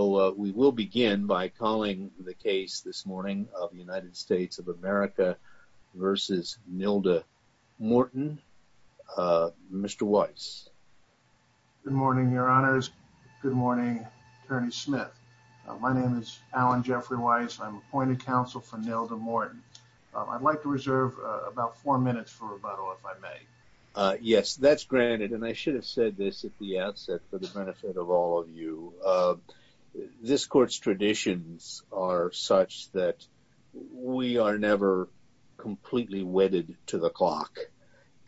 Good morning, your honors. Good morning, Attorney Smith. My name is Alan Jeffrey Weiss. I'm appointed counsel for Nilda Morton. I'd like to reserve about four minutes for rebuttal if I may. Yes, that's granted. And I should have said this at the outset for the benefit of all of you. This court's traditions are such that we are never completely wedded to the clock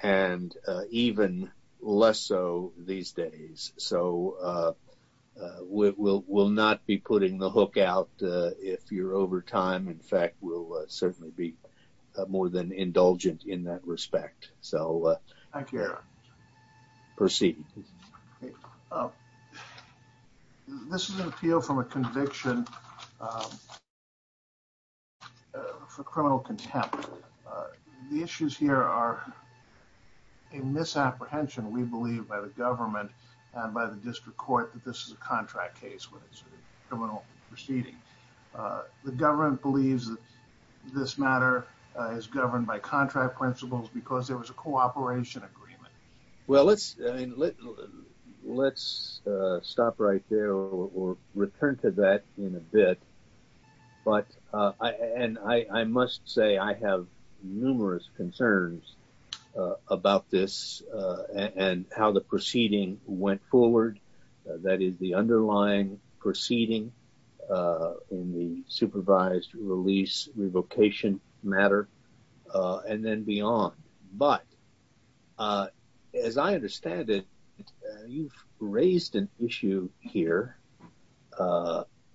and even less so these days. So we will not be putting the hook out if you're over time. In fact, we'll certainly be more than indulgent in that respect. So I care. Proceed. This is an appeal from a conviction for criminal contempt. The issues here are a misapprehension, we believe, by the government and by the district court that this is a contract case, but it's a criminal proceeding. The government believes this matter is governed by contract principles because there was a cooperation agreement. Well, let's let's stop right there or return to that in a bit. But I and I must say I have numerous concerns about this and how the proceeding in the supervised release revocation matter and then beyond. But as I understand it, you've raised an issue here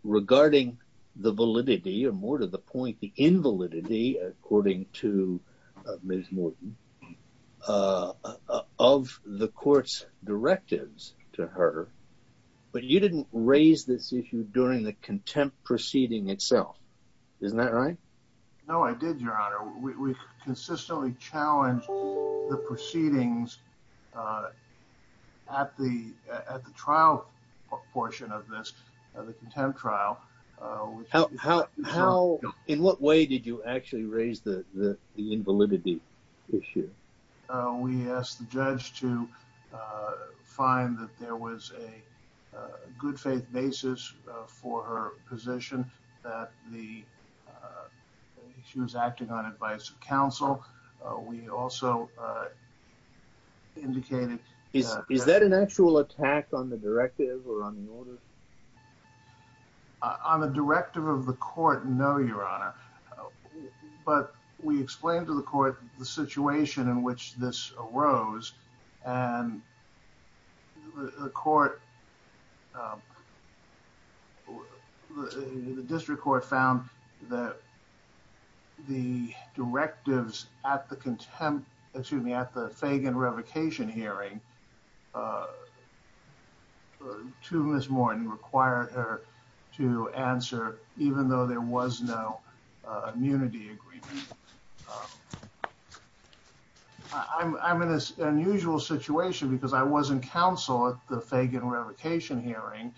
regarding the validity or more to the point the invalidity according to Ms. Morton of the court's directives to her. But you didn't raise this issue during the contempt proceeding itself. Isn't that right? No, I did, Your Honor. We consistently challenged the proceedings at the at the trial portion of this, the contempt trial. How in what way did you actually raise the invalidity issue? We asked the judge to find that there was a good faith basis for her position that the she was acting on advice of counsel. We also indicated. Is that an but we explained to the court the situation in which this arose and the court, the district court found that the directives at the contempt, excuse me, at the Fagan revocation hearing to Ms. Morton required her to answer, even though there was no immunity agreement. I'm in this unusual situation because I wasn't counsel at the Fagan revocation hearing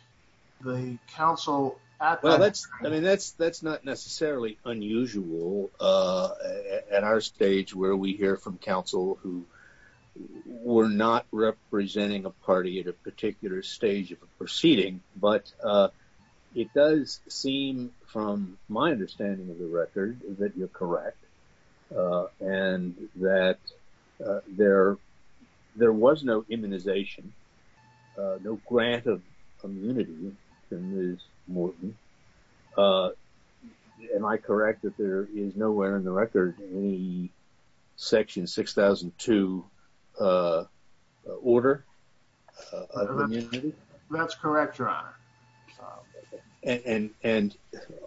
the council. Well, that's I mean, that's that's not necessarily unusual at our stage where we hear from counsel who were not representing a party at a particular stage of a proceeding. But it does seem from my understanding of the record that you're correct and that there there was no immunization, no grant of immunity in this Morton. Uh, am I correct that there is nowhere in the record in the section 6002 order? That's correct, your honor. And and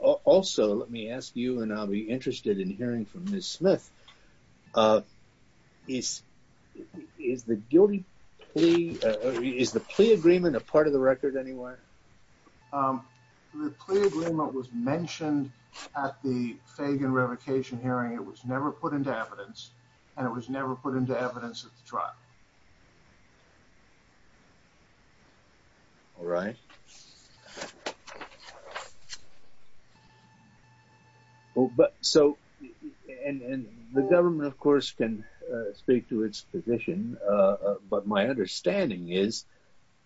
also let me ask you and I'll be interested in part of the record anyway. Um, the plea agreement was mentioned at the Fagan revocation hearing. It was never put into evidence and it was never put into evidence at the trial. All right. Oh, but so and the government, of course, can speak to its position. But my understanding is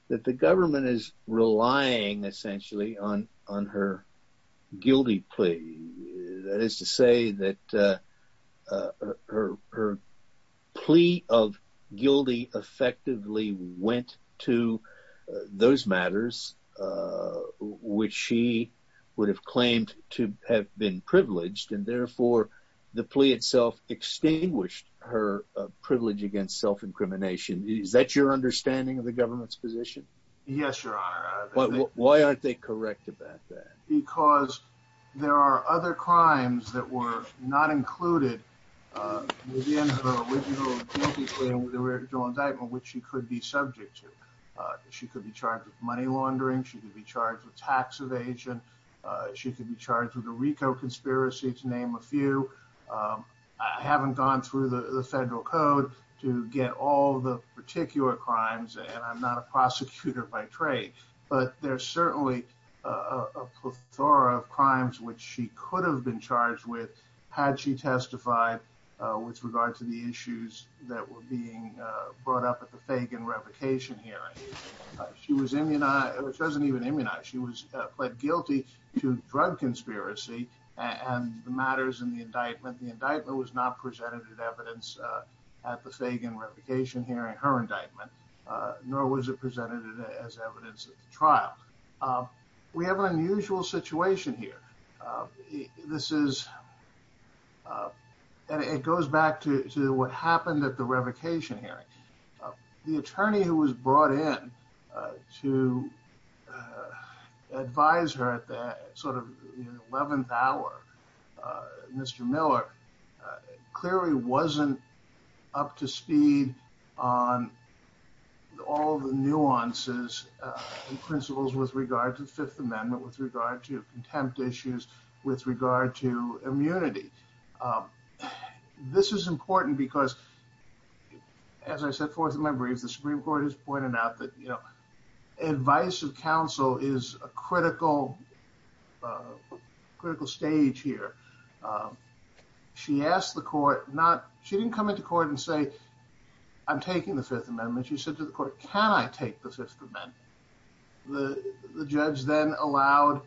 that the government is relying essentially on on her guilty plea. That is to say that her plea of guilty effectively went to those matters which she would have claimed to have been privileged and therefore the plea itself extinguished her privilege against self incrimination. Is that your understanding of the government's position? Yes, your honor. Why aren't they correct about that? Because there are other crimes that were not included within the original guilty plea, the original indictment which she could be subject to. She could be charged with money laundering, she could be charged with tax evasion, she could be charged with a RICO conspiracy to name a few. I haven't gone through the federal code to get all the particular crimes and I'm not a prosecutor by trade. But there's certainly a plethora of crimes which she could have been charged with had she testified with regard to the issues that were being brought up at the Fagan revocation hearing. She was immunized, which doesn't even immunize, she was pled guilty to drug conspiracy and the matters in the evidence at the Fagan revocation hearing, her indictment, nor was it presented as evidence at the trial. We have an unusual situation here. This is, it goes back to what happened at the revocation hearing. The attorney who was brought in to advise her at that sort of 11th hour, Mr. Miller, clearly wasn't up to speed on all the nuances and principles with regard to the Fifth Amendment, with regard to contempt issues, with regard to immunity. This is important because, as I said forth in my briefs, the Supreme Court has pointed out that, you know, advice of counsel is a critical, critical stage here. She asked the court not, she didn't come into court and say, I'm taking the Fifth Amendment. She said to the court, can I take the Fifth Amendment? The judge then allowed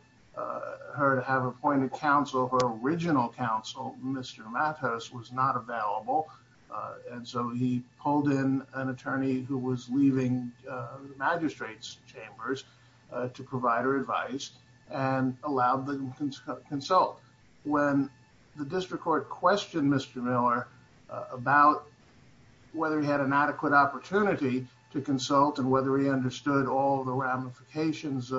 her to have appointed counsel, her original counsel, Mr. Matos was not available. And so he pulled in an attorney who was leaving magistrates chambers to provide her advice and allowed them to consult. When the district court questioned Mr. Miller about whether he had an adequate opportunity to consult and whether he understood all the ramifications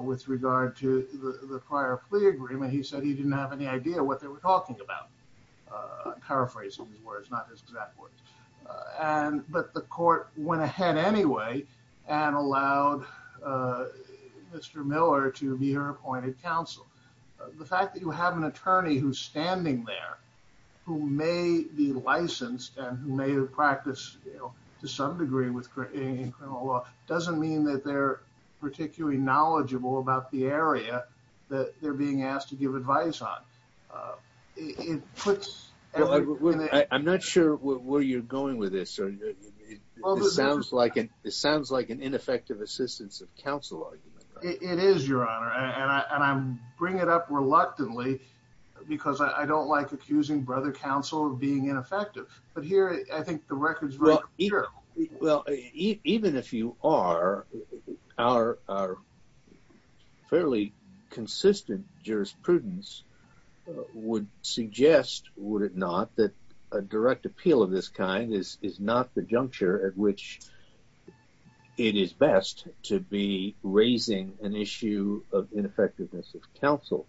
with regard to the prior plea agreement, he said he didn't have any idea what they were talking about. I'm paraphrasing these words, not exactly. And but the court went ahead anyway, and allowed Mr. Miller to be her appointed counsel. The fact that you have an attorney who's standing there, who may be licensed and who may have practiced to some degree with criminal law doesn't mean that they're particularly knowledgeable about the area that they're being asked to give advice on. It puts I'm not sure where you're going with this. Or it sounds like it sounds like an ineffective assistance of counsel. It is your honor, and I'm bringing it up reluctantly, because I don't like accusing brother counsel of being ineffective. But here, I think the records here. Well, even if you are, our fairly consistent jurisprudence would suggest would it not that a direct appeal of this kind is not the juncture at which it is best to be raising an issue of ineffectiveness of counsel.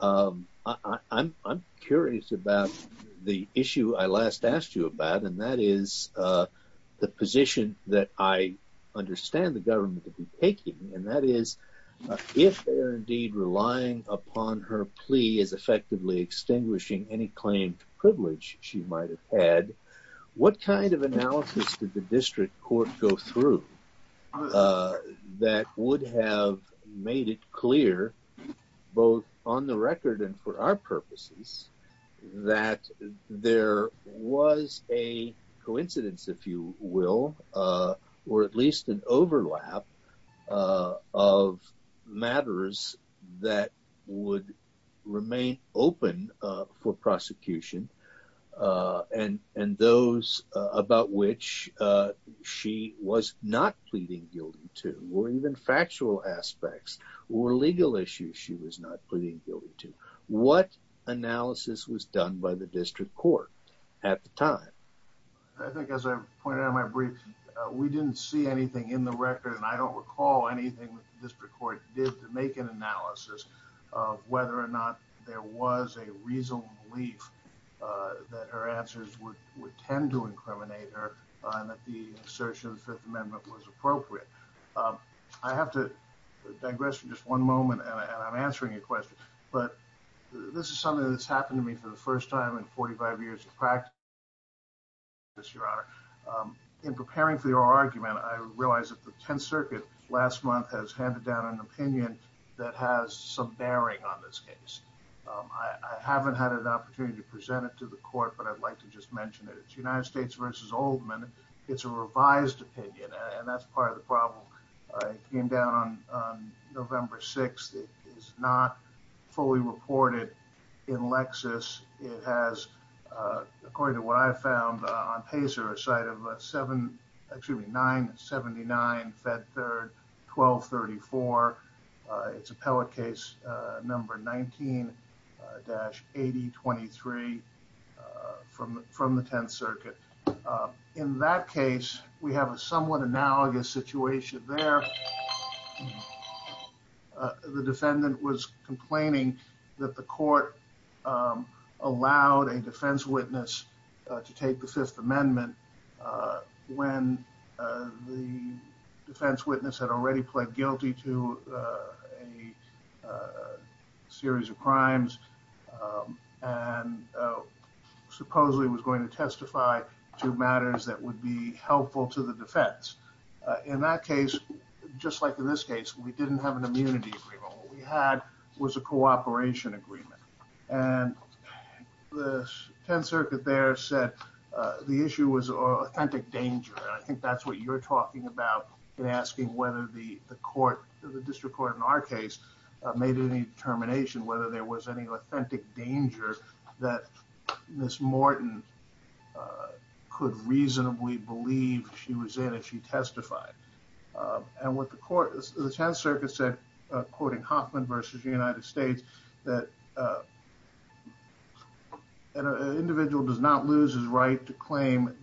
I'm curious about the the position that I understand the government to be taking. And that is, if they're indeed relying upon her plea is effectively extinguishing any claim to privilege she might have had, what kind of analysis did the district court go through? That would have made it clear, both on the record and for our purposes, that there was a coincidence, if you will, or at overlap of matters that would remain open for prosecution. And those about which she was not pleading guilty to were even factual aspects or legal issues she was not pleading guilty to. What analysis was done by the district court at the time? I think as I pointed out in my brief, we didn't see anything in the record. And I don't recall anything that the district court did to make an analysis of whether or not there was a reasonable belief that her answers would tend to incriminate her and that the assertion of the Fifth Amendment was appropriate. I have to digress for just one moment. And I'm answering your question. But this is something that's your honor. In preparing for your argument, I realized that the 10th Circuit last month has handed down an opinion that has some bearing on this case. I haven't had an opportunity to present it to the court. But I'd like to just mention that it's United States versus Oldman. It's a case that was handed down on Pazer, a site of 979 Fed Third 1234. It's appellate case number 19-8023 from the 10th Circuit. In that case, we have a defense witness to take the Fifth Amendment when the defense witness had already pled guilty to a series of crimes and supposedly was going to testify to matters that would be helpful to the defense. In that case, just like in this case, we didn't have an immunity. What we had was a defense witness to testify to matters that would be helpful to the defense. And so the 10th Circuit there said the issue was authentic danger. I think that's what you're talking about in asking whether the court, the district court in our case, made any determination whether there was any authentic danger that Ms. Morton could reasonably believe she was in and she testified. And what the court, the 10th Circuit said, quoting Hoffman versus the United States, that an individual does not lose his right to self-incrimination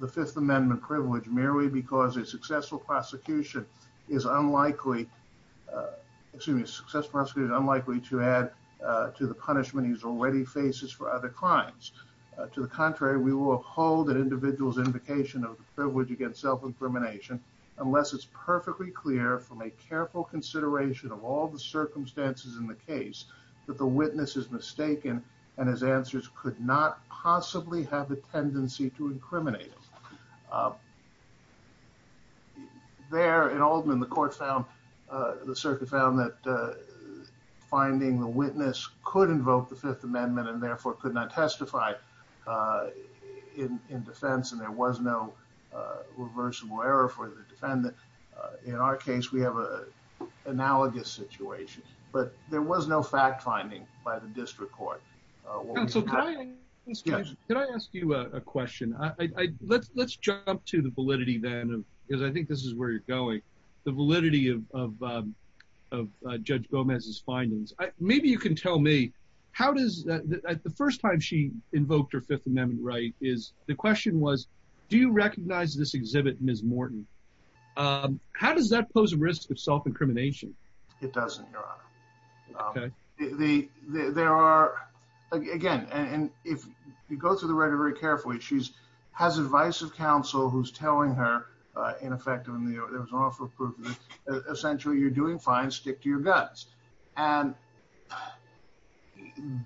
unless it's perfectly clear from a careful consideration of all the circumstances in the case that the witness is mistaken and his answers could not possibly have a tendency to find the witness could invoke the Fifth Amendment and therefore could not testify in defense and there was no reversible error for the defendant. In our case, we have an analogous situation, but there was no fact finding by the district court. Counsel, can I ask you a question? Let's jump to the validity then, because I think this is where you're going. The validity of Judge Gomez's findings. Maybe you can tell me, the first time she invoked her Fifth Amendment right, the question was, do you recognize this exhibit Ms. Morton? How does that pose a risk of self-incrimination? It doesn't, Your Honor. There are, again, and if you go through the record very carefully, she has advice of counsel who's telling her, in effect, essentially you're doing fine, stick to your guts. And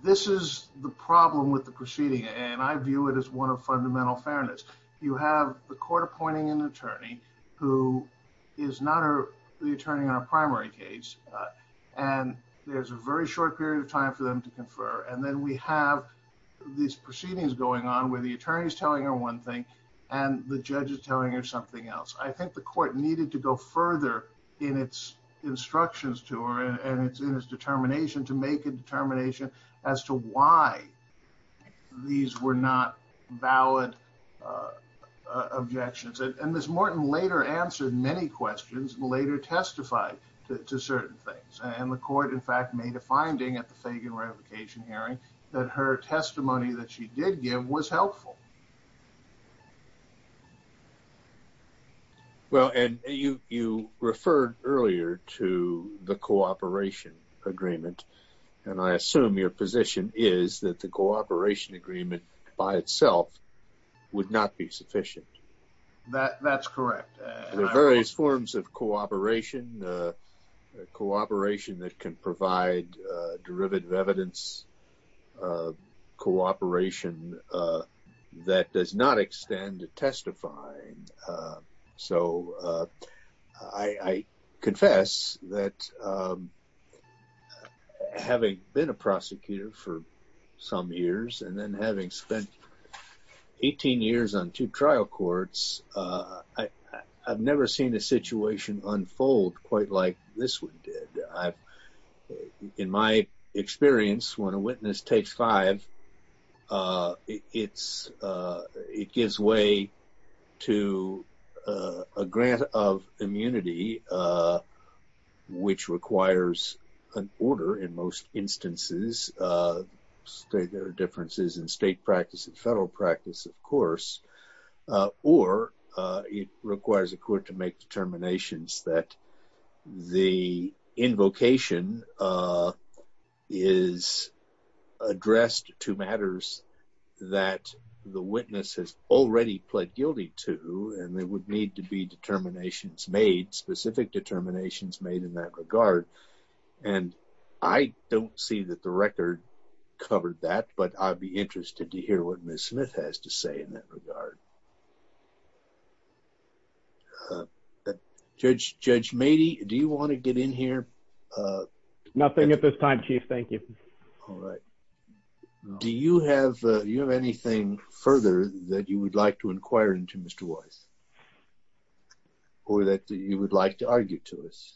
this is the problem with the proceeding, and I view it as one of fundamental fairness. You have the court appointing an attorney who is not the attorney on a primary case, and there's a very short period of time for them to confer. And then we have these proceedings going on where the attorney is telling her one thing and the judge is telling her something else. I think the court needed to go further in its instructions to her and in its determination to make a determination as to why these were not valid objections. And Ms. Morton later answered many questions, later testified to certain things. And the court, in fact, made a finding at the Fagan revocation hearing that her testimony that she did give was helpful. Well, and you referred earlier to the cooperation agreement, and I assume your position is that the cooperation agreement by itself would not be sufficient. That's correct. I've never seen a situation unfold quite like this one did. In my experience, when a witness takes five, it gives way to a grant of immunity, which requires an order in most instances. There are differences in state practice and federal practice, of course, or it requires a court to make determinations that the invocation is addressed to matters that the witness has already pled guilty to, and there would need to be determinations made, specific determinations made in that regard. And I don't see that the record covered that, but I'd be interested to hear what Ms. Smith has to say in that regard. Judge Mady, do you want to get in here? Nothing at this time, Chief. Thank you. All right. Do you have anything further that you would like to inquire into, Mr. Weiss, or that you would like to argue to us?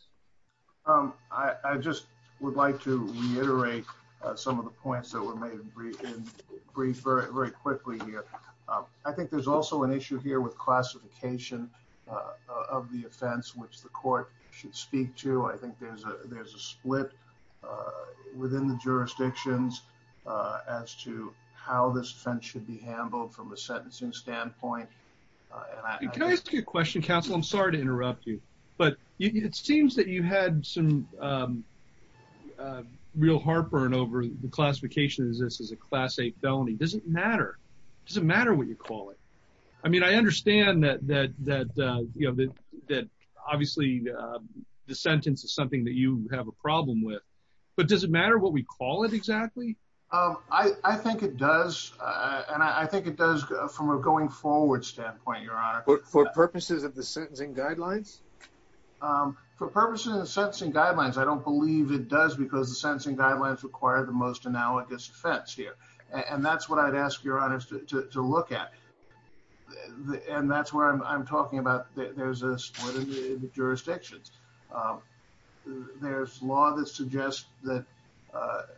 I just would like to reiterate some of the points that were made in brief very quickly here. I think there's also an issue here with classification of the offense, which the court should speak to. I think there's a split within the jurisdictions as to how this offense should be handled from a sentencing standpoint. Can I ask you a question, counsel? I'm sorry to interrupt you, but it seems that you had some real heartburn over the classification of this as a Class 8 felony. Does it matter? Does it matter what you call it? I mean, I understand that obviously the sentence is something that you have a problem with, but does it matter what we call it exactly? I think it does, and I think it does from a going forward standpoint, Your Honor. For purposes of the sentencing guidelines? For purposes of the sentencing guidelines, I don't believe it does because the sentencing guidelines require the most analogous offense here. And that's what I'd ask Your Honor to look at. And that's where I'm talking about there's a split in the jurisdictions. There's law that suggests that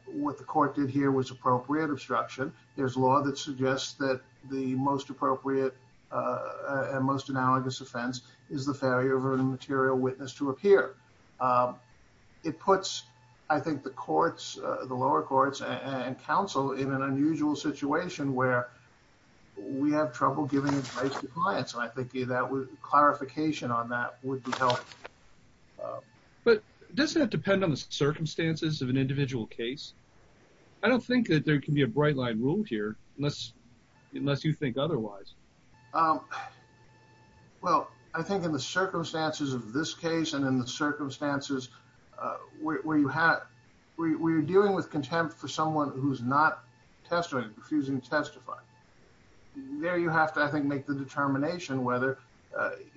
what the court did here was appropriate obstruction. There's law that suggests that the most appropriate and most analogous offense is the failure of a material witness to appear. It puts, I think, the courts, the lower courts and counsel in an unusual situation where we have trouble giving advice to clients. And I think that clarification on that would be helpful. But doesn't it depend on the circumstances of an individual case? I don't think that there can be a bright line rule here unless you think otherwise. Well, I think in the circumstances of this case and in the circumstances where you're dealing with contempt for someone who's not testifying, refusing to testify, there you have to, I think, make the determination whether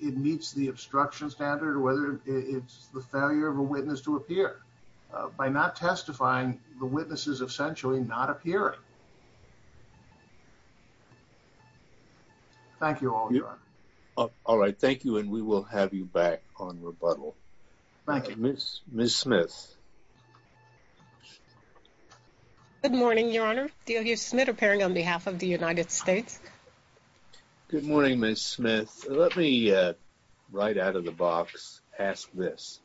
it meets the obstruction standard or whether it's the failure of a witness to appear. By not testifying, the witness is essentially not appearing. Thank you, Your Honor. All right. Thank you. And we will have you back on rebuttal. Ms. Smith. Good morning, Your Honor. DLU Smith appearing on behalf of the United States. Good morning, Ms. Smith. Let me right out of the box ask this.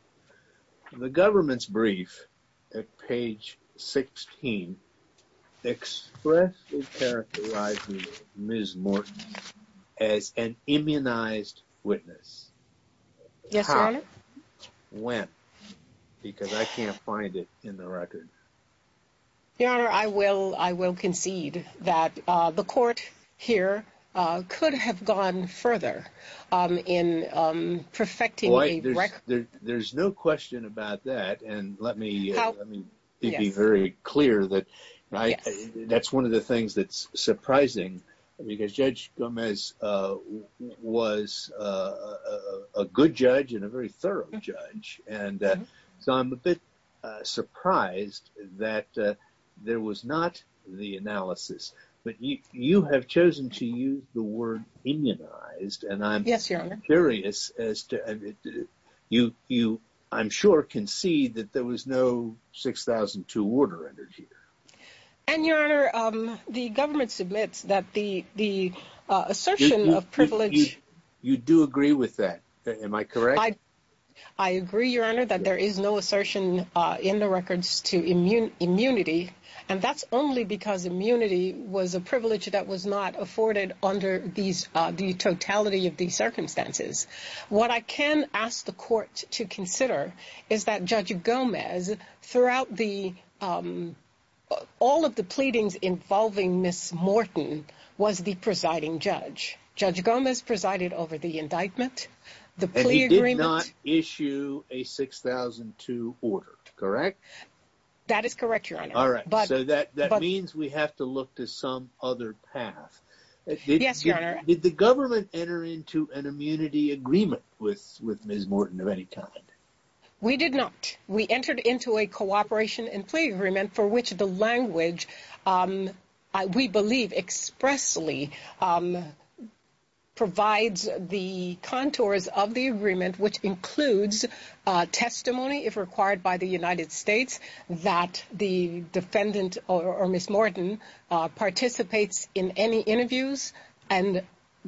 The government's brief at page 16 expressly characterizes Ms. Morton as an immunized witness. Yes, Your Honor. How? When? Because I can't find it in the record. Your Honor, I will concede that the court here could have gone further in perfecting a record. There's no question about that. And let me be very clear that that's one of the things that's surprising because Judge Gomez was a good judge and a very thorough judge. And so I'm a bit surprised that there was not the analysis. But you have chosen to use the word immunized. Yes, Your Honor. And I'm curious. You, I'm sure, concede that there was no 6002 order entered here. And, Your Honor, the government submits that the assertion of privilege... You do agree with that. Am I correct? I agree, Your Honor, that there is no assertion in the records to immunity. And that's only because immunity was a privilege that was not afforded under these, the totality of these circumstances. What I can ask the court to consider is that Judge Gomez, throughout the, all of the pleadings involving Ms. Morton, was the presiding judge. Judge Gomez presided over the indictment, the plea agreement... And he did not issue a 6002 order, correct? That is correct, Your Honor. All right. So that means we have to look to some other path. Yes, Your Honor. Did the government enter into an immunity agreement with Ms. Morton of any kind? We did not. We entered into a cooperation and plea agreement for which the language, we believe, expressly provides the contours of the agreement, which includes testimony, if required by the United States, that the defendant or Ms. Morton participates in any interviews and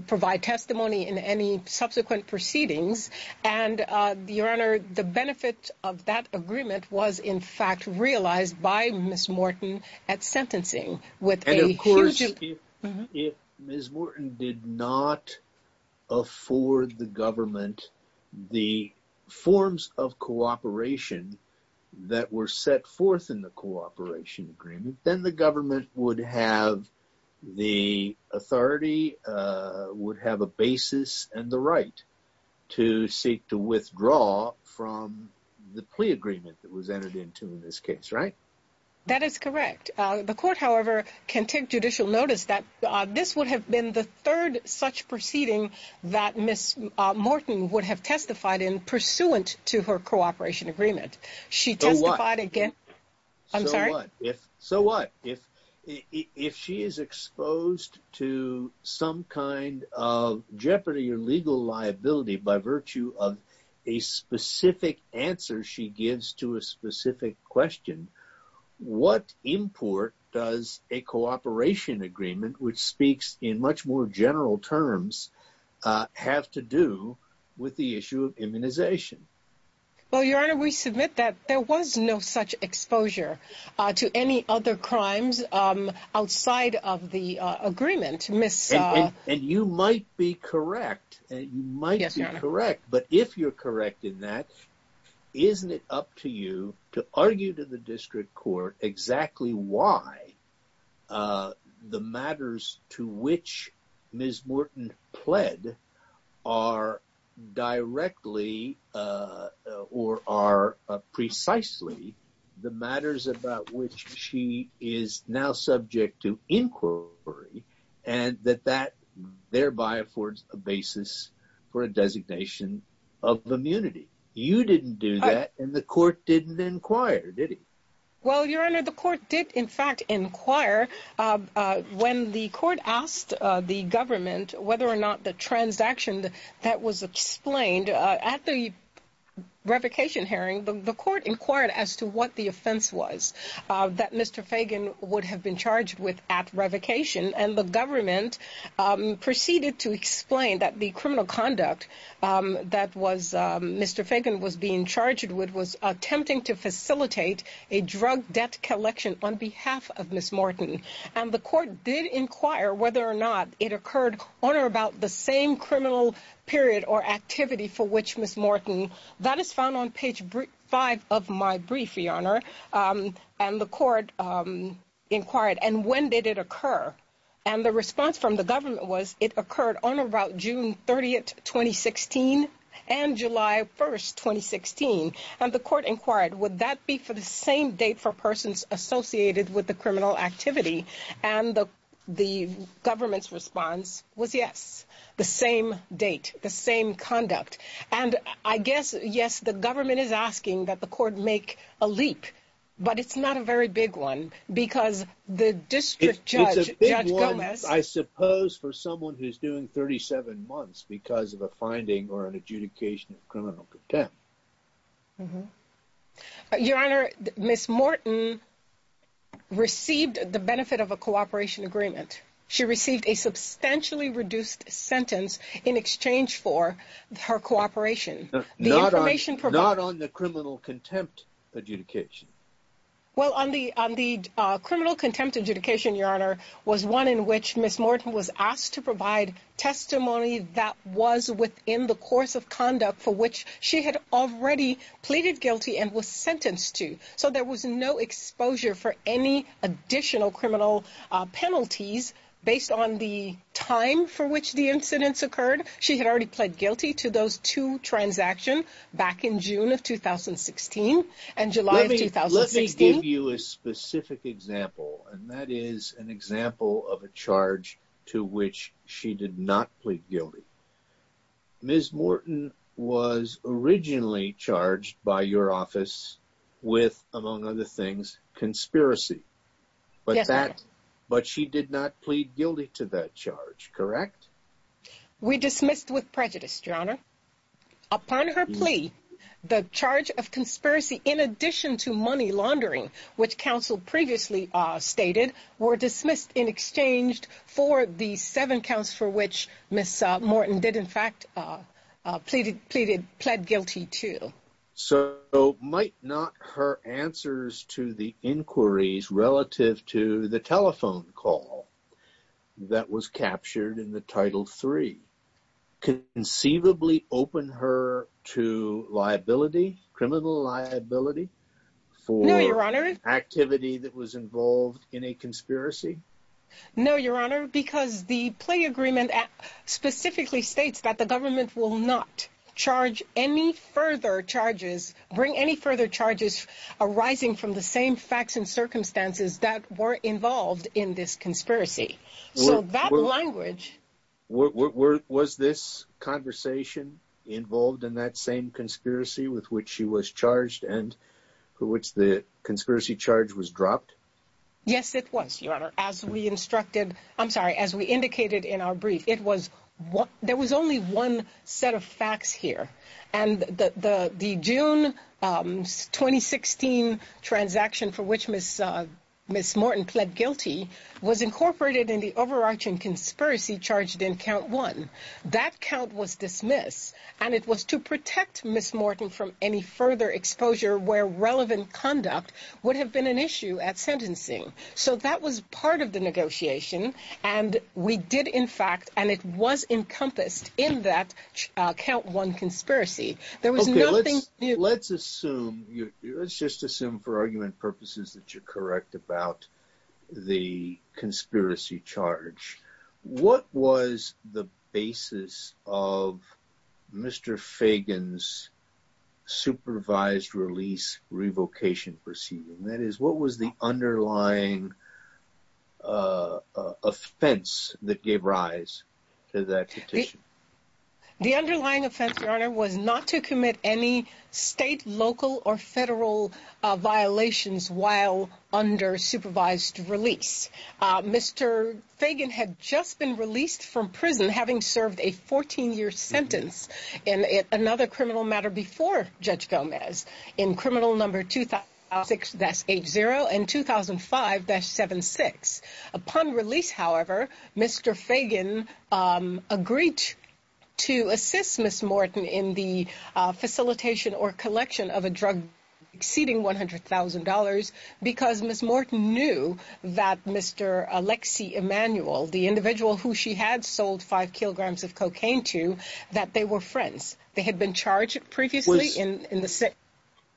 provide testimony in any subsequent proceedings. And, Your Honor, the benefit of that agreement was, in fact, realized by Ms. Morton at sentencing with a huge... ...to withdraw from the plea agreement that was entered into in this case, right? That is correct. The court, however, can take judicial notice that this would have been the third such proceeding that Ms. Morton would have testified in pursuant to her cooperation agreement. So what? I'm sorry? What import does a cooperation agreement, which speaks in much more general terms, have to do with the issue of immunization? Well, Your Honor, we submit that there was no such exposure to any other crimes outside of the agreement. And you might be correct. Yes, Your Honor. But if you're correct in that, isn't it up to you to argue to the district court exactly why the matters to which Ms. Morton pled are directly or are precisely the matters about which she is now subject to inquiry... ...thereby affords a basis for a designation of immunity? You didn't do that and the court didn't inquire, did it? Well, Your Honor, the court did, in fact, inquire. When the court asked the government whether or not the transaction that was explained at the revocation hearing, the court inquired as to what the offense was that Mr. Fagan would have been charged with at revocation. And the government proceeded to explain that the criminal conduct that Mr. Fagan was being charged with was attempting to facilitate a drug debt collection on behalf of Ms. Morton. And the court did inquire whether or not it occurred on or about the same criminal period or activity for which Ms. Morton... That is found on page 5 of my brief, Your Honor. And the court inquired, and when did it occur? And the response from the government was it occurred on or about June 30, 2016 and July 1, 2016. And the court inquired, would that be for the same date for persons associated with the criminal activity? And the government's response was yes, the same date, the same conduct. And I guess, yes, the government is asking that the court make a leap, but it's not a very big one because the district judge, Judge Gomez... It's a big one, I suppose, for someone who's doing 37 months because of a finding or an adjudication of criminal contempt. Your Honor, Ms. Morton received the benefit of a cooperation agreement. She received a substantially reduced sentence in exchange for her cooperation. Not on the criminal contempt adjudication. Well, on the criminal contempt adjudication, Your Honor, was one in which Ms. Morton was asked to provide testimony that was within the course of conduct for which she had already pleaded guilty and was sentenced to. So there was no exposure for any additional criminal penalties based on the time for which the incidents occurred. She had already pled guilty to those two transactions back in June of 2016 and July of 2016. Let me give you a specific example, and that is an example of a charge to which she did not plead guilty. Ms. Morton was originally charged by your office with, among other things, conspiracy. Yes, Your Honor. But she did not plead guilty to that charge, correct? Yes. We dismissed with prejudice, Your Honor. Upon her plea, the charge of conspiracy in addition to money laundering, which counsel previously stated, were dismissed in exchange for the seven counts for which Ms. Morton did in fact plead guilty to. So might not her answers to the inquiries relative to the telephone call that was captured in the Title III conceivably open her to liability, criminal liability, for activity that was involved in a conspiracy? No, Your Honor, because the plea agreement specifically states that the government will not charge any further charges, bring any further charges arising from the same facts and circumstances that were involved in this conspiracy. So that language... Was this conversation involved in that same conspiracy with which she was charged and for which the conspiracy charge was dropped? Yes, it was, Your Honor. As we indicated in our brief, there was only one set of facts here. And the June 2016 transaction for which Ms. Morton pled guilty was incorporated in the overarching conspiracy charged in Count 1. That count was dismissed, and it was to protect Ms. Morton from any further exposure where relevant conduct would have been an issue at sentencing. So that was part of the negotiation, and we did in fact, and it was encompassed in that Count 1 conspiracy. Okay, let's assume, let's just assume for argument purposes that you're correct about the conspiracy charge. What was the basis of Mr. Fagan's supervised release revocation proceeding? That is, what was the underlying offense that gave rise to that petition? The underlying offense, Your Honor, was not to commit any state, local, or federal violations while under supervised release. Mr. Fagan had just been released from prison having served a 14-year sentence in another criminal matter before Judge Gomez in Criminal No. 2006-80 and 2005-76. Upon release, however, Mr. Fagan agreed to assist Ms. Morton in the facilitation or collection of a drug exceeding $100,000 because Ms. Morton knew that Mr. Alexi Emanuel, the individual who she had sold 5 kilograms of cocaine to, that they were friends. They had been charged previously in the same...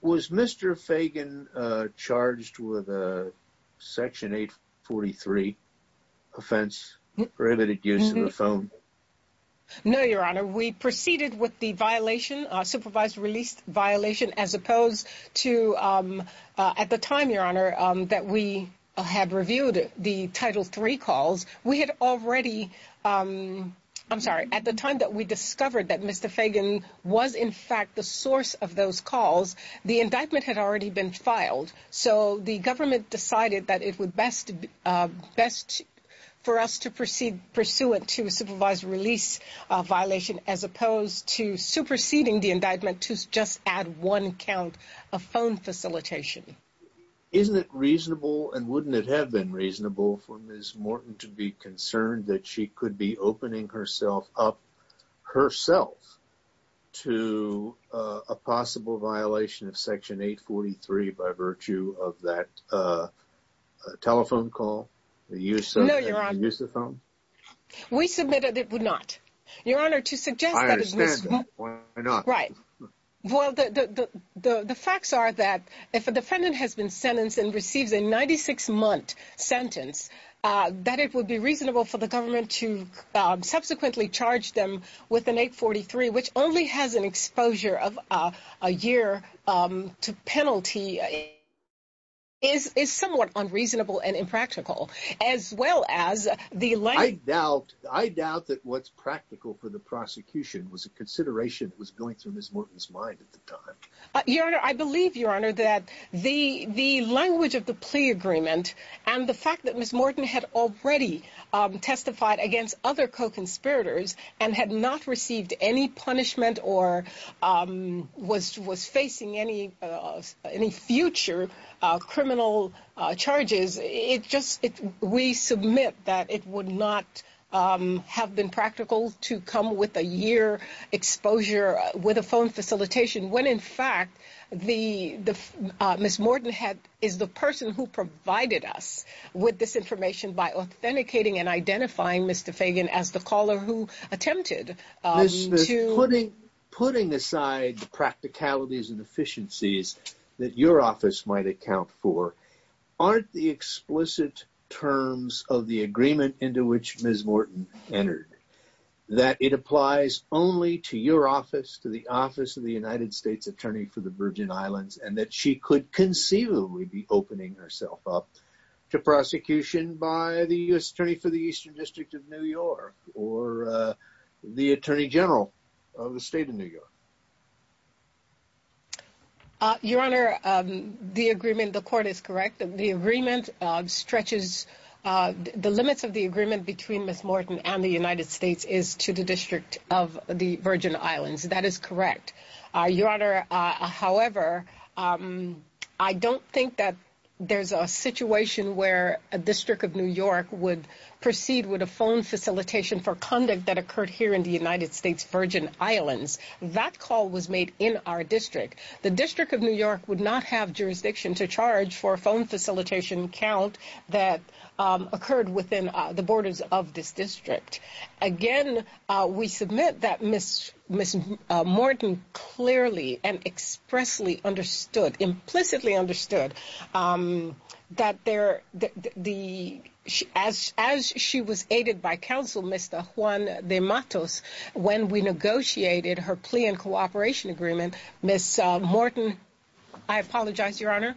Was Mr. Fagan charged with a Section 843 offense for illicit use of the phone? No, Your Honor. We proceeded with the violation, supervised release violation, as opposed to... At the time, Your Honor, that we had reviewed the Title III calls, we had already... The indictment had already been filed, so the government decided that it would be best for us to pursue a supervised release violation as opposed to superseding the indictment to just add one count of phone facilitation. Isn't it reasonable, and wouldn't it have been reasonable, for Ms. Morton to be concerned that she could be opening herself up, herself, to a possible violation of Section 843 by virtue of that telephone call, the use of the phone? No, Your Honor. We submitted it would not. Your Honor, to suggest that... I understand. Why not? Right. Well, the facts are that if a defendant has been sentenced and receives a 96-month sentence, that it would be reasonable for the government to subsequently charge them with an 843, which only has an exposure of a year to penalty, is somewhat unreasonable and impractical, as well as the language... I doubt that what's practical for the prosecution was a consideration that was going through Ms. Morton's mind at the time. Your Honor, I believe, Your Honor, that the language of the plea agreement and the fact that Ms. Morton had already testified against other co-conspirators and had not received any punishment or was facing any future criminal charges, we submit that it would not have been practical to come with a year exposure with a phone facilitation and, in fact, Ms. Morton is the person who provided us with this information by authenticating and identifying Mr. Fagan as the caller who attempted to... Ms. Smith, putting aside the practicalities and efficiencies that your office might account for, aren't the explicit terms of the agreement into which Ms. Morton entered that it applies only to your office, to the office of the United States Attorney for the Virgin Islands, and that she could conceivably be opening herself up to prosecution by the U.S. Attorney for the Eastern District of New York or the Attorney General of the State of New York? Your Honor, the agreement, the court is correct. The agreement stretches... the limits of the agreement between Ms. Morton and the United States is to the District of the Virgin Islands. The court is correct. Your Honor, however, I don't think that there's a situation where a District of New York would proceed with a phone facilitation for conduct that occurred here in the United States Virgin Islands. That call was made in our district. The District of New York would not have jurisdiction to charge for a phone facilitation count that occurred within the borders of this district. Again, we submit that Ms. Morton clearly and expressly understood, implicitly understood, that as she was aided by counsel, Mr. Juan de Matos, when we negotiated her plea and cooperation agreement, Ms. Morton... I apologize, Your Honor.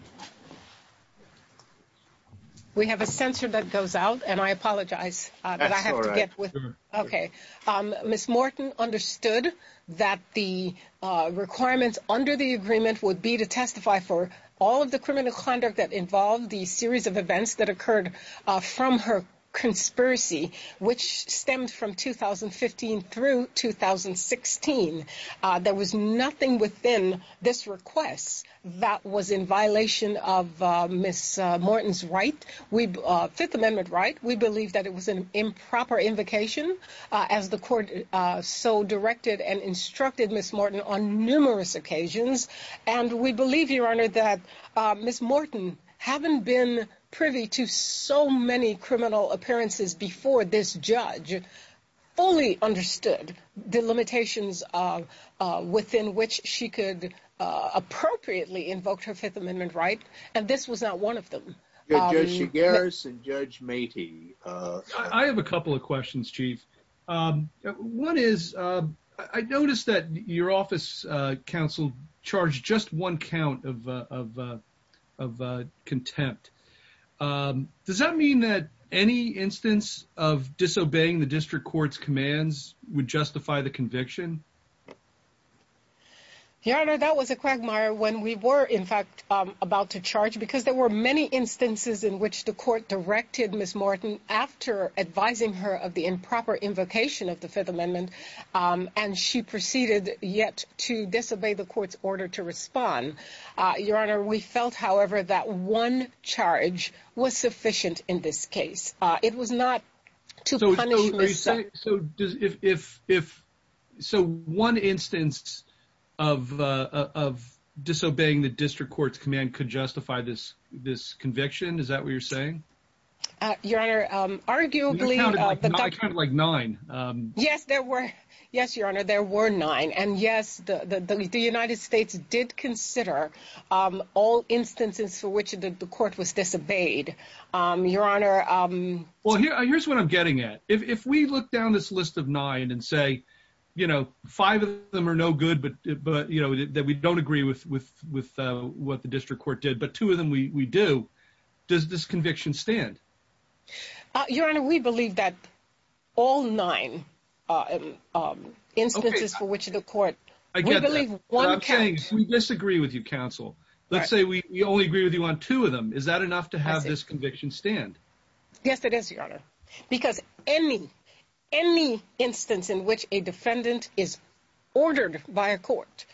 We have a censor that goes out, and I apologize. That's all right. Ms. Morton understood that the requirements under the agreement would be to testify for all of the criminal conduct that involved the series of events that occurred from her conspiracy, which stemmed from 2015 through 2016. There was nothing within this request that was in violation of Ms. Morton's right, Fifth Amendment right. We believe that it was an improper invocation, as the court so directed and instructed Ms. Morton on numerous occasions. And we believe, Your Honor, that Ms. Morton, having been privy to so many criminal appearances before this judge, fully understood the limitations within which she could appropriately invoke her Fifth Amendment right, and this was not one of them. Judge Shigaris and Judge Matey. I have a couple of questions, Chief. One is, I noticed that your office counsel charged just one count of contempt. Does that mean that any instance of disobeying the district court's commands would justify the conviction? Your Honor, that was a quagmire when we were, in fact, about to charge, because there were many instances in which the court directed Ms. Morton after advising her of the improper invocation of the Fifth Amendment, and she proceeded yet to disobey the court's order to respond. Your Honor, we felt, however, that one charge was sufficient in this case. It was not to punish Ms. Morton. So one instance of disobeying the district court's command could justify this conviction? Is that what you're saying? Your Honor, arguably... You counted like nine. Yes, Your Honor, there were nine. And yes, the United States did consider all instances for which the court was disobeyed. Your Honor... Well, here's what I'm getting at. If we look down this list of nine and say, you know, five of them are no good, but, you know, that we don't agree with what the district court did, but two of them we do, does this conviction stand? Your Honor, we believe that all nine instances for which the court... We disagree with you, counsel. Let's say we only agree with you on two of them. Is that enough to have this conviction stand? No, Your Honor, because any instance in which a defendant is ordered by a court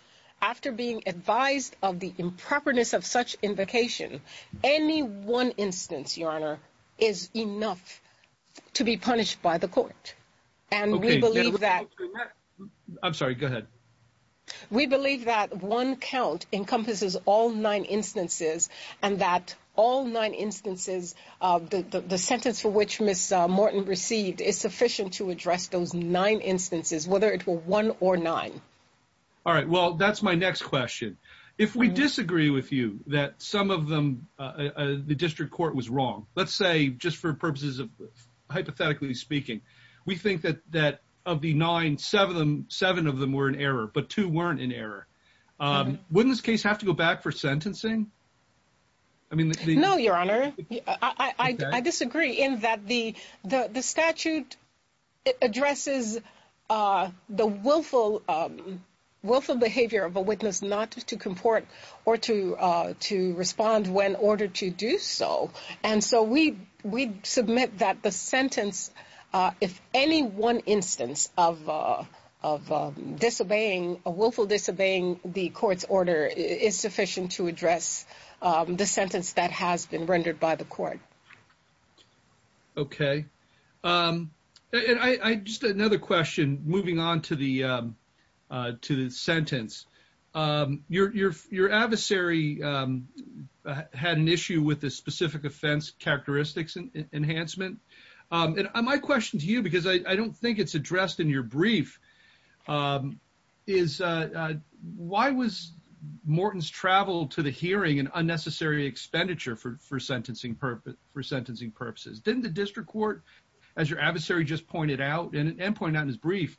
after being advised of the improperness of such invocation, any one instance, Your Honor, is enough to be punished by the court. And we believe that... I'm sorry, go ahead. We believe that one count encompasses all nine instances and that all nine instances... The sentence for which Ms. Morton received is sufficient to address those nine instances, whether it were one or nine. All right, well, that's my next question. If we disagree with you that some of them the district court was wrong, let's say just for purposes of hypothetically speaking, we think that of the nine, seven of them were in error, but two weren't in error. Wouldn't this case have to go back for sentencing? No, Your Honor. I disagree in that the statute addresses the willful behavior of a witness not to comport or to respond when ordered to do so. And so we submit that the sentence, if any one instance of disobeying, a willful disobeying the court's order is sufficient to address the sentence that has been rendered by the court. Okay. And just another question, moving on to the sentence. Your adversary had an issue with the specific offense characteristics enhancement. And my question to you, because I don't think it's addressed in your brief, is why was Morton's travel to the hearing an unnecessary expenditure for sentencing purposes? Didn't the district court, as your adversary just pointed out and pointed out in his brief,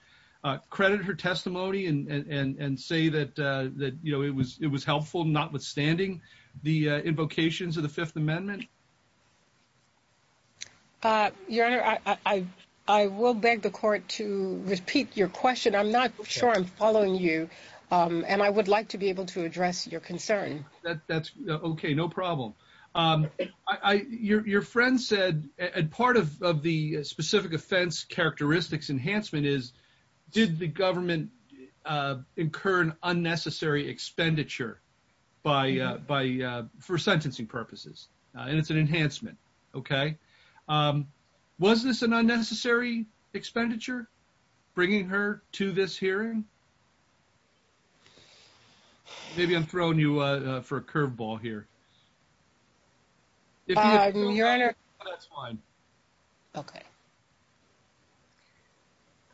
credit her testimony and say that it was helpful, notwithstanding the invocations of the Fifth Amendment? Your Honor, I will beg the court to repeat your question. I'm not sure I'm following you, and I would like to be able to address your concern. Okay, no problem. Your friend said, and part of the specific offense characteristics enhancement is, did the government incur an unnecessary expenditure for sentencing purposes? And it's an enhancement. Okay. Was this an unnecessary expenditure, bringing her to this hearing? Maybe I'm throwing you for a curveball here. Your Honor. That's fine. Okay.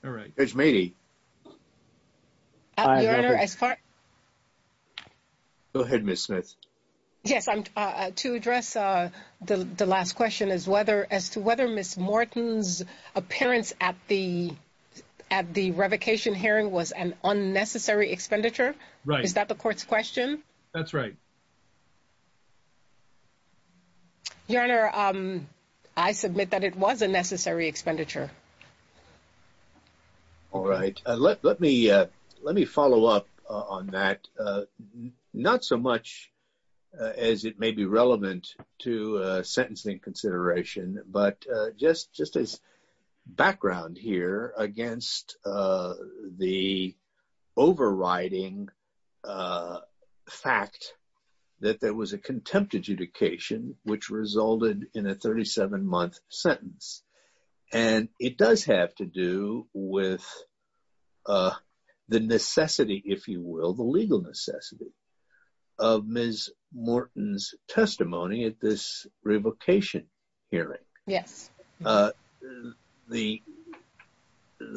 All right. Judge Meadey. Your Honor, as far... Go ahead, Ms. Smith. Yes, to address the last question as to whether Ms. Morton's appearance at the revocation hearing was an unnecessary expenditure. Right. Is that the court's question? That's right. Your Honor, I submit that it was a necessary expenditure. All right. Let me follow up on that, not so much as it may be relevant to sentencing consideration, but just as background here against the overriding fact that there was a contempt adjudication, which resulted in a 37-month sentence. And it does have to do with the necessity, if you will, the legal necessity of Ms. Morton's testimony at this revocation hearing. Yes. The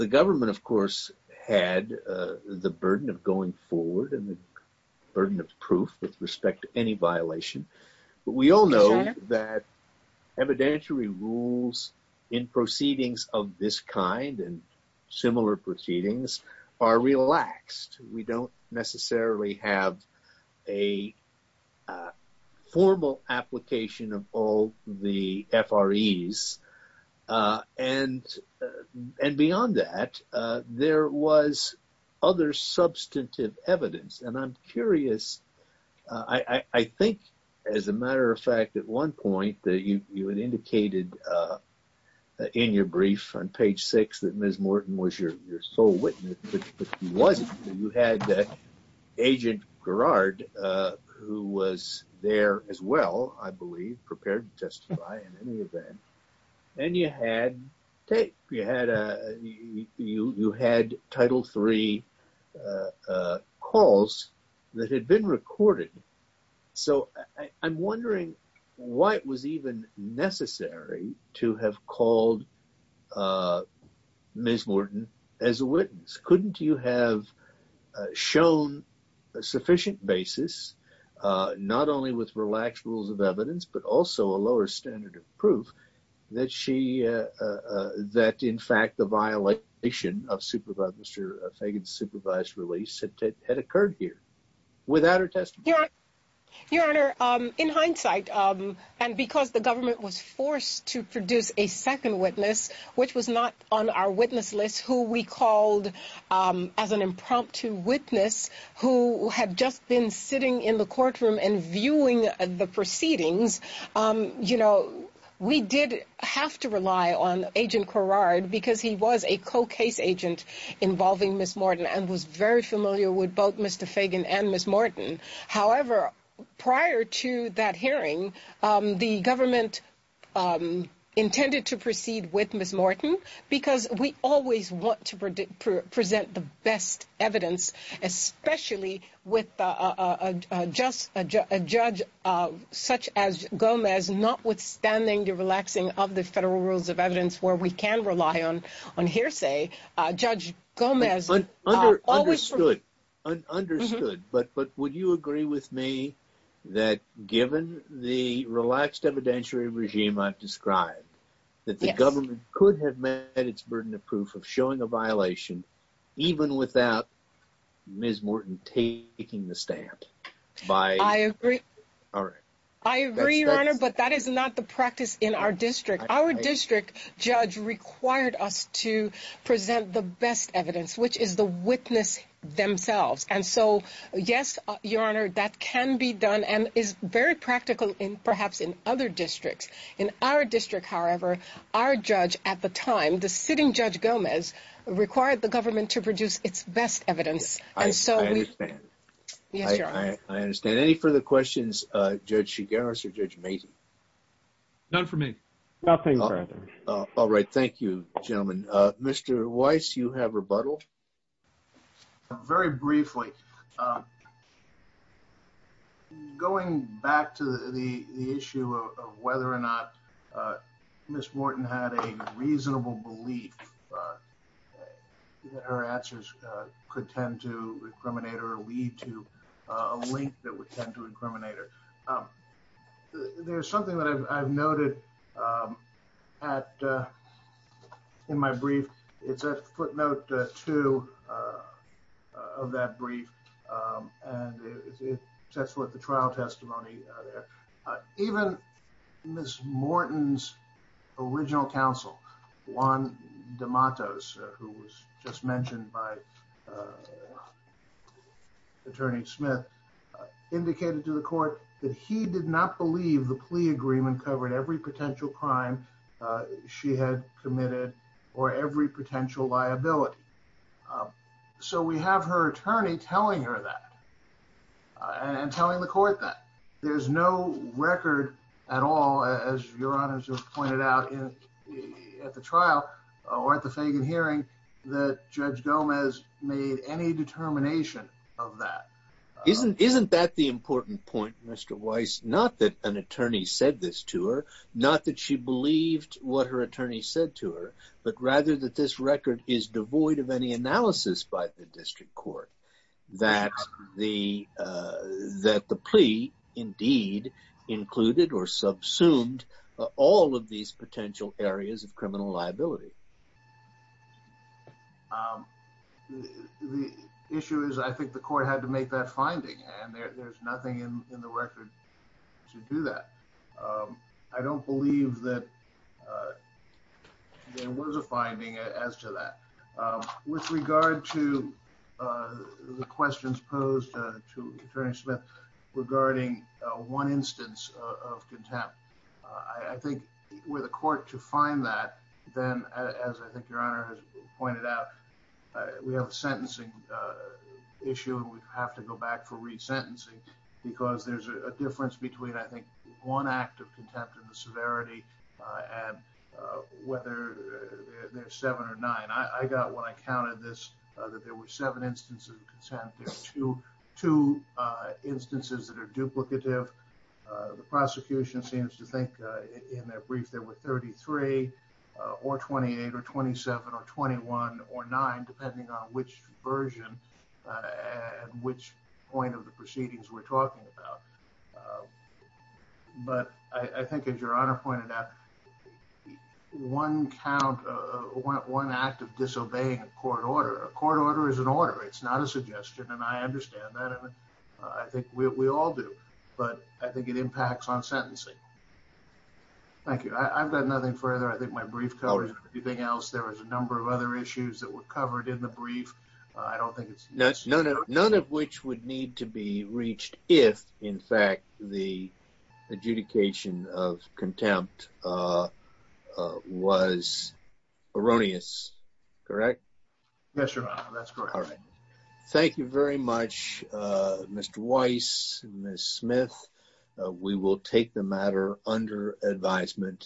government, of course, had the burden of going forward and the burden of proof with respect to any violation. But we all know that evidentiary rules in proceedings of this kind and similar proceedings are relaxed. We don't necessarily have a formal application of all the FREs. And beyond that, there was other substantive evidence. And I'm curious, I think, as a matter of fact, at one point that you had indicated in your brief on page six that Ms. Morton was your sole witness, but she wasn't. You had Agent Gerard, who was there as well, I believe, prepared to testify in any event. And you had tape. You had Title III calls that had been recorded. So I'm wondering why it was even necessary to have called Ms. Morton as a witness. Couldn't you have shown a sufficient basis, not only with relaxed rules of evidence, but also a lower standard of proof that in fact the violation of Mr. Fagan's supervised release had occurred here without her testimony? Your Honor, in hindsight, and because the government was forced to produce a second witness, which was not on our witness list, who we called as an impromptu witness, who had just been sitting in the courtroom and viewing the proceedings, we did have to rely on Agent Gerard because he was a co-case agent involving Ms. Morton and was very familiar with both Mr. Fagan and Ms. Morton. However, prior to that hearing, the government intended to proceed with Ms. Morton because we always want to present the best evidence, especially with a judge such as Gomez, notwithstanding the relaxing of the federal rules of evidence where we can rely on hearsay. Understood. But would you agree with me that given the relaxed evidentiary regime I've described, that the government could have met its burden of proof of showing a violation even without Ms. Morton taking the stand? I agree, Your Honor, but that is not the practice in our district. Our district judge required us to present the best evidence, which is the witness themselves. And so, yes, Your Honor, that can be done and is very practical perhaps in other districts. In our district, however, our judge at the time, the sitting Judge Gomez, required the government to produce its best evidence. And so, yes, Your Honor. I understand. Any further questions, Judge Shigaris or Judge Macy? None for me. Nothing further. All right. Thank you, gentlemen. Mr. Weiss, you have rebuttal? Very briefly. Going back to the issue of whether or not Ms. Morton had a reasonable belief that her answers could tend to incriminate or lead to a link that would tend to incriminate her. There's something that I've noted in my brief. It's at footnote two of that brief, and it sets forth the trial testimony there. Even Ms. Morton's original counsel, Juan De Matos, who was just mentioned by Attorney Smith, indicated to the court that he did not believe the plea agreement covered every potential crime she had committed or every potential liability. So we have her attorney telling her that and telling the court that. There's no record at all, as Your Honor has just pointed out at the trial or at the Fagan hearing, that Judge Gomez made any determination of that. Isn't that the important point, Mr. Weiss? Not that an attorney said this to her, not that she believed what her attorney said to her, but rather that this record is devoid of any analysis by the district court that the plea indeed included or subsumed all of these potential areas of criminal liability. The issue is I think the court had to make that finding, and there's nothing in the record to do that. I don't believe that there was a finding as to that. With regard to the questions posed to Attorney Smith regarding one instance of contempt, I think for the court to find that, then, as I think Your Honor has pointed out, we have a sentencing issue, and we have to go back for resentencing because there's a difference between, I think, one act of contempt and the severity and whether there's seven or nine. I got, when I counted this, that there were seven instances of contempt. There are two instances that are duplicative. The prosecution seems to think, in their brief, there were 33 or 28 or 27 or 21 or nine, depending on which version and which point of the proceedings we're talking about. But I think, as Your Honor pointed out, one count, one act of disobeying a court order, a court order is an order. It's not a suggestion, and I understand that. I think we all do, but I think it impacts on sentencing. Thank you. I've got nothing further. I think my brief covers everything else. There was a number of other issues that were covered in the brief. I don't think it's necessary. None of which would need to be reached if, in fact, the adjudication of contempt was erroneous, correct? Yes, Your Honor, that's correct. All right. Thank you very much, Mr. Weiss and Ms. Smith. We will take the matter under advisement.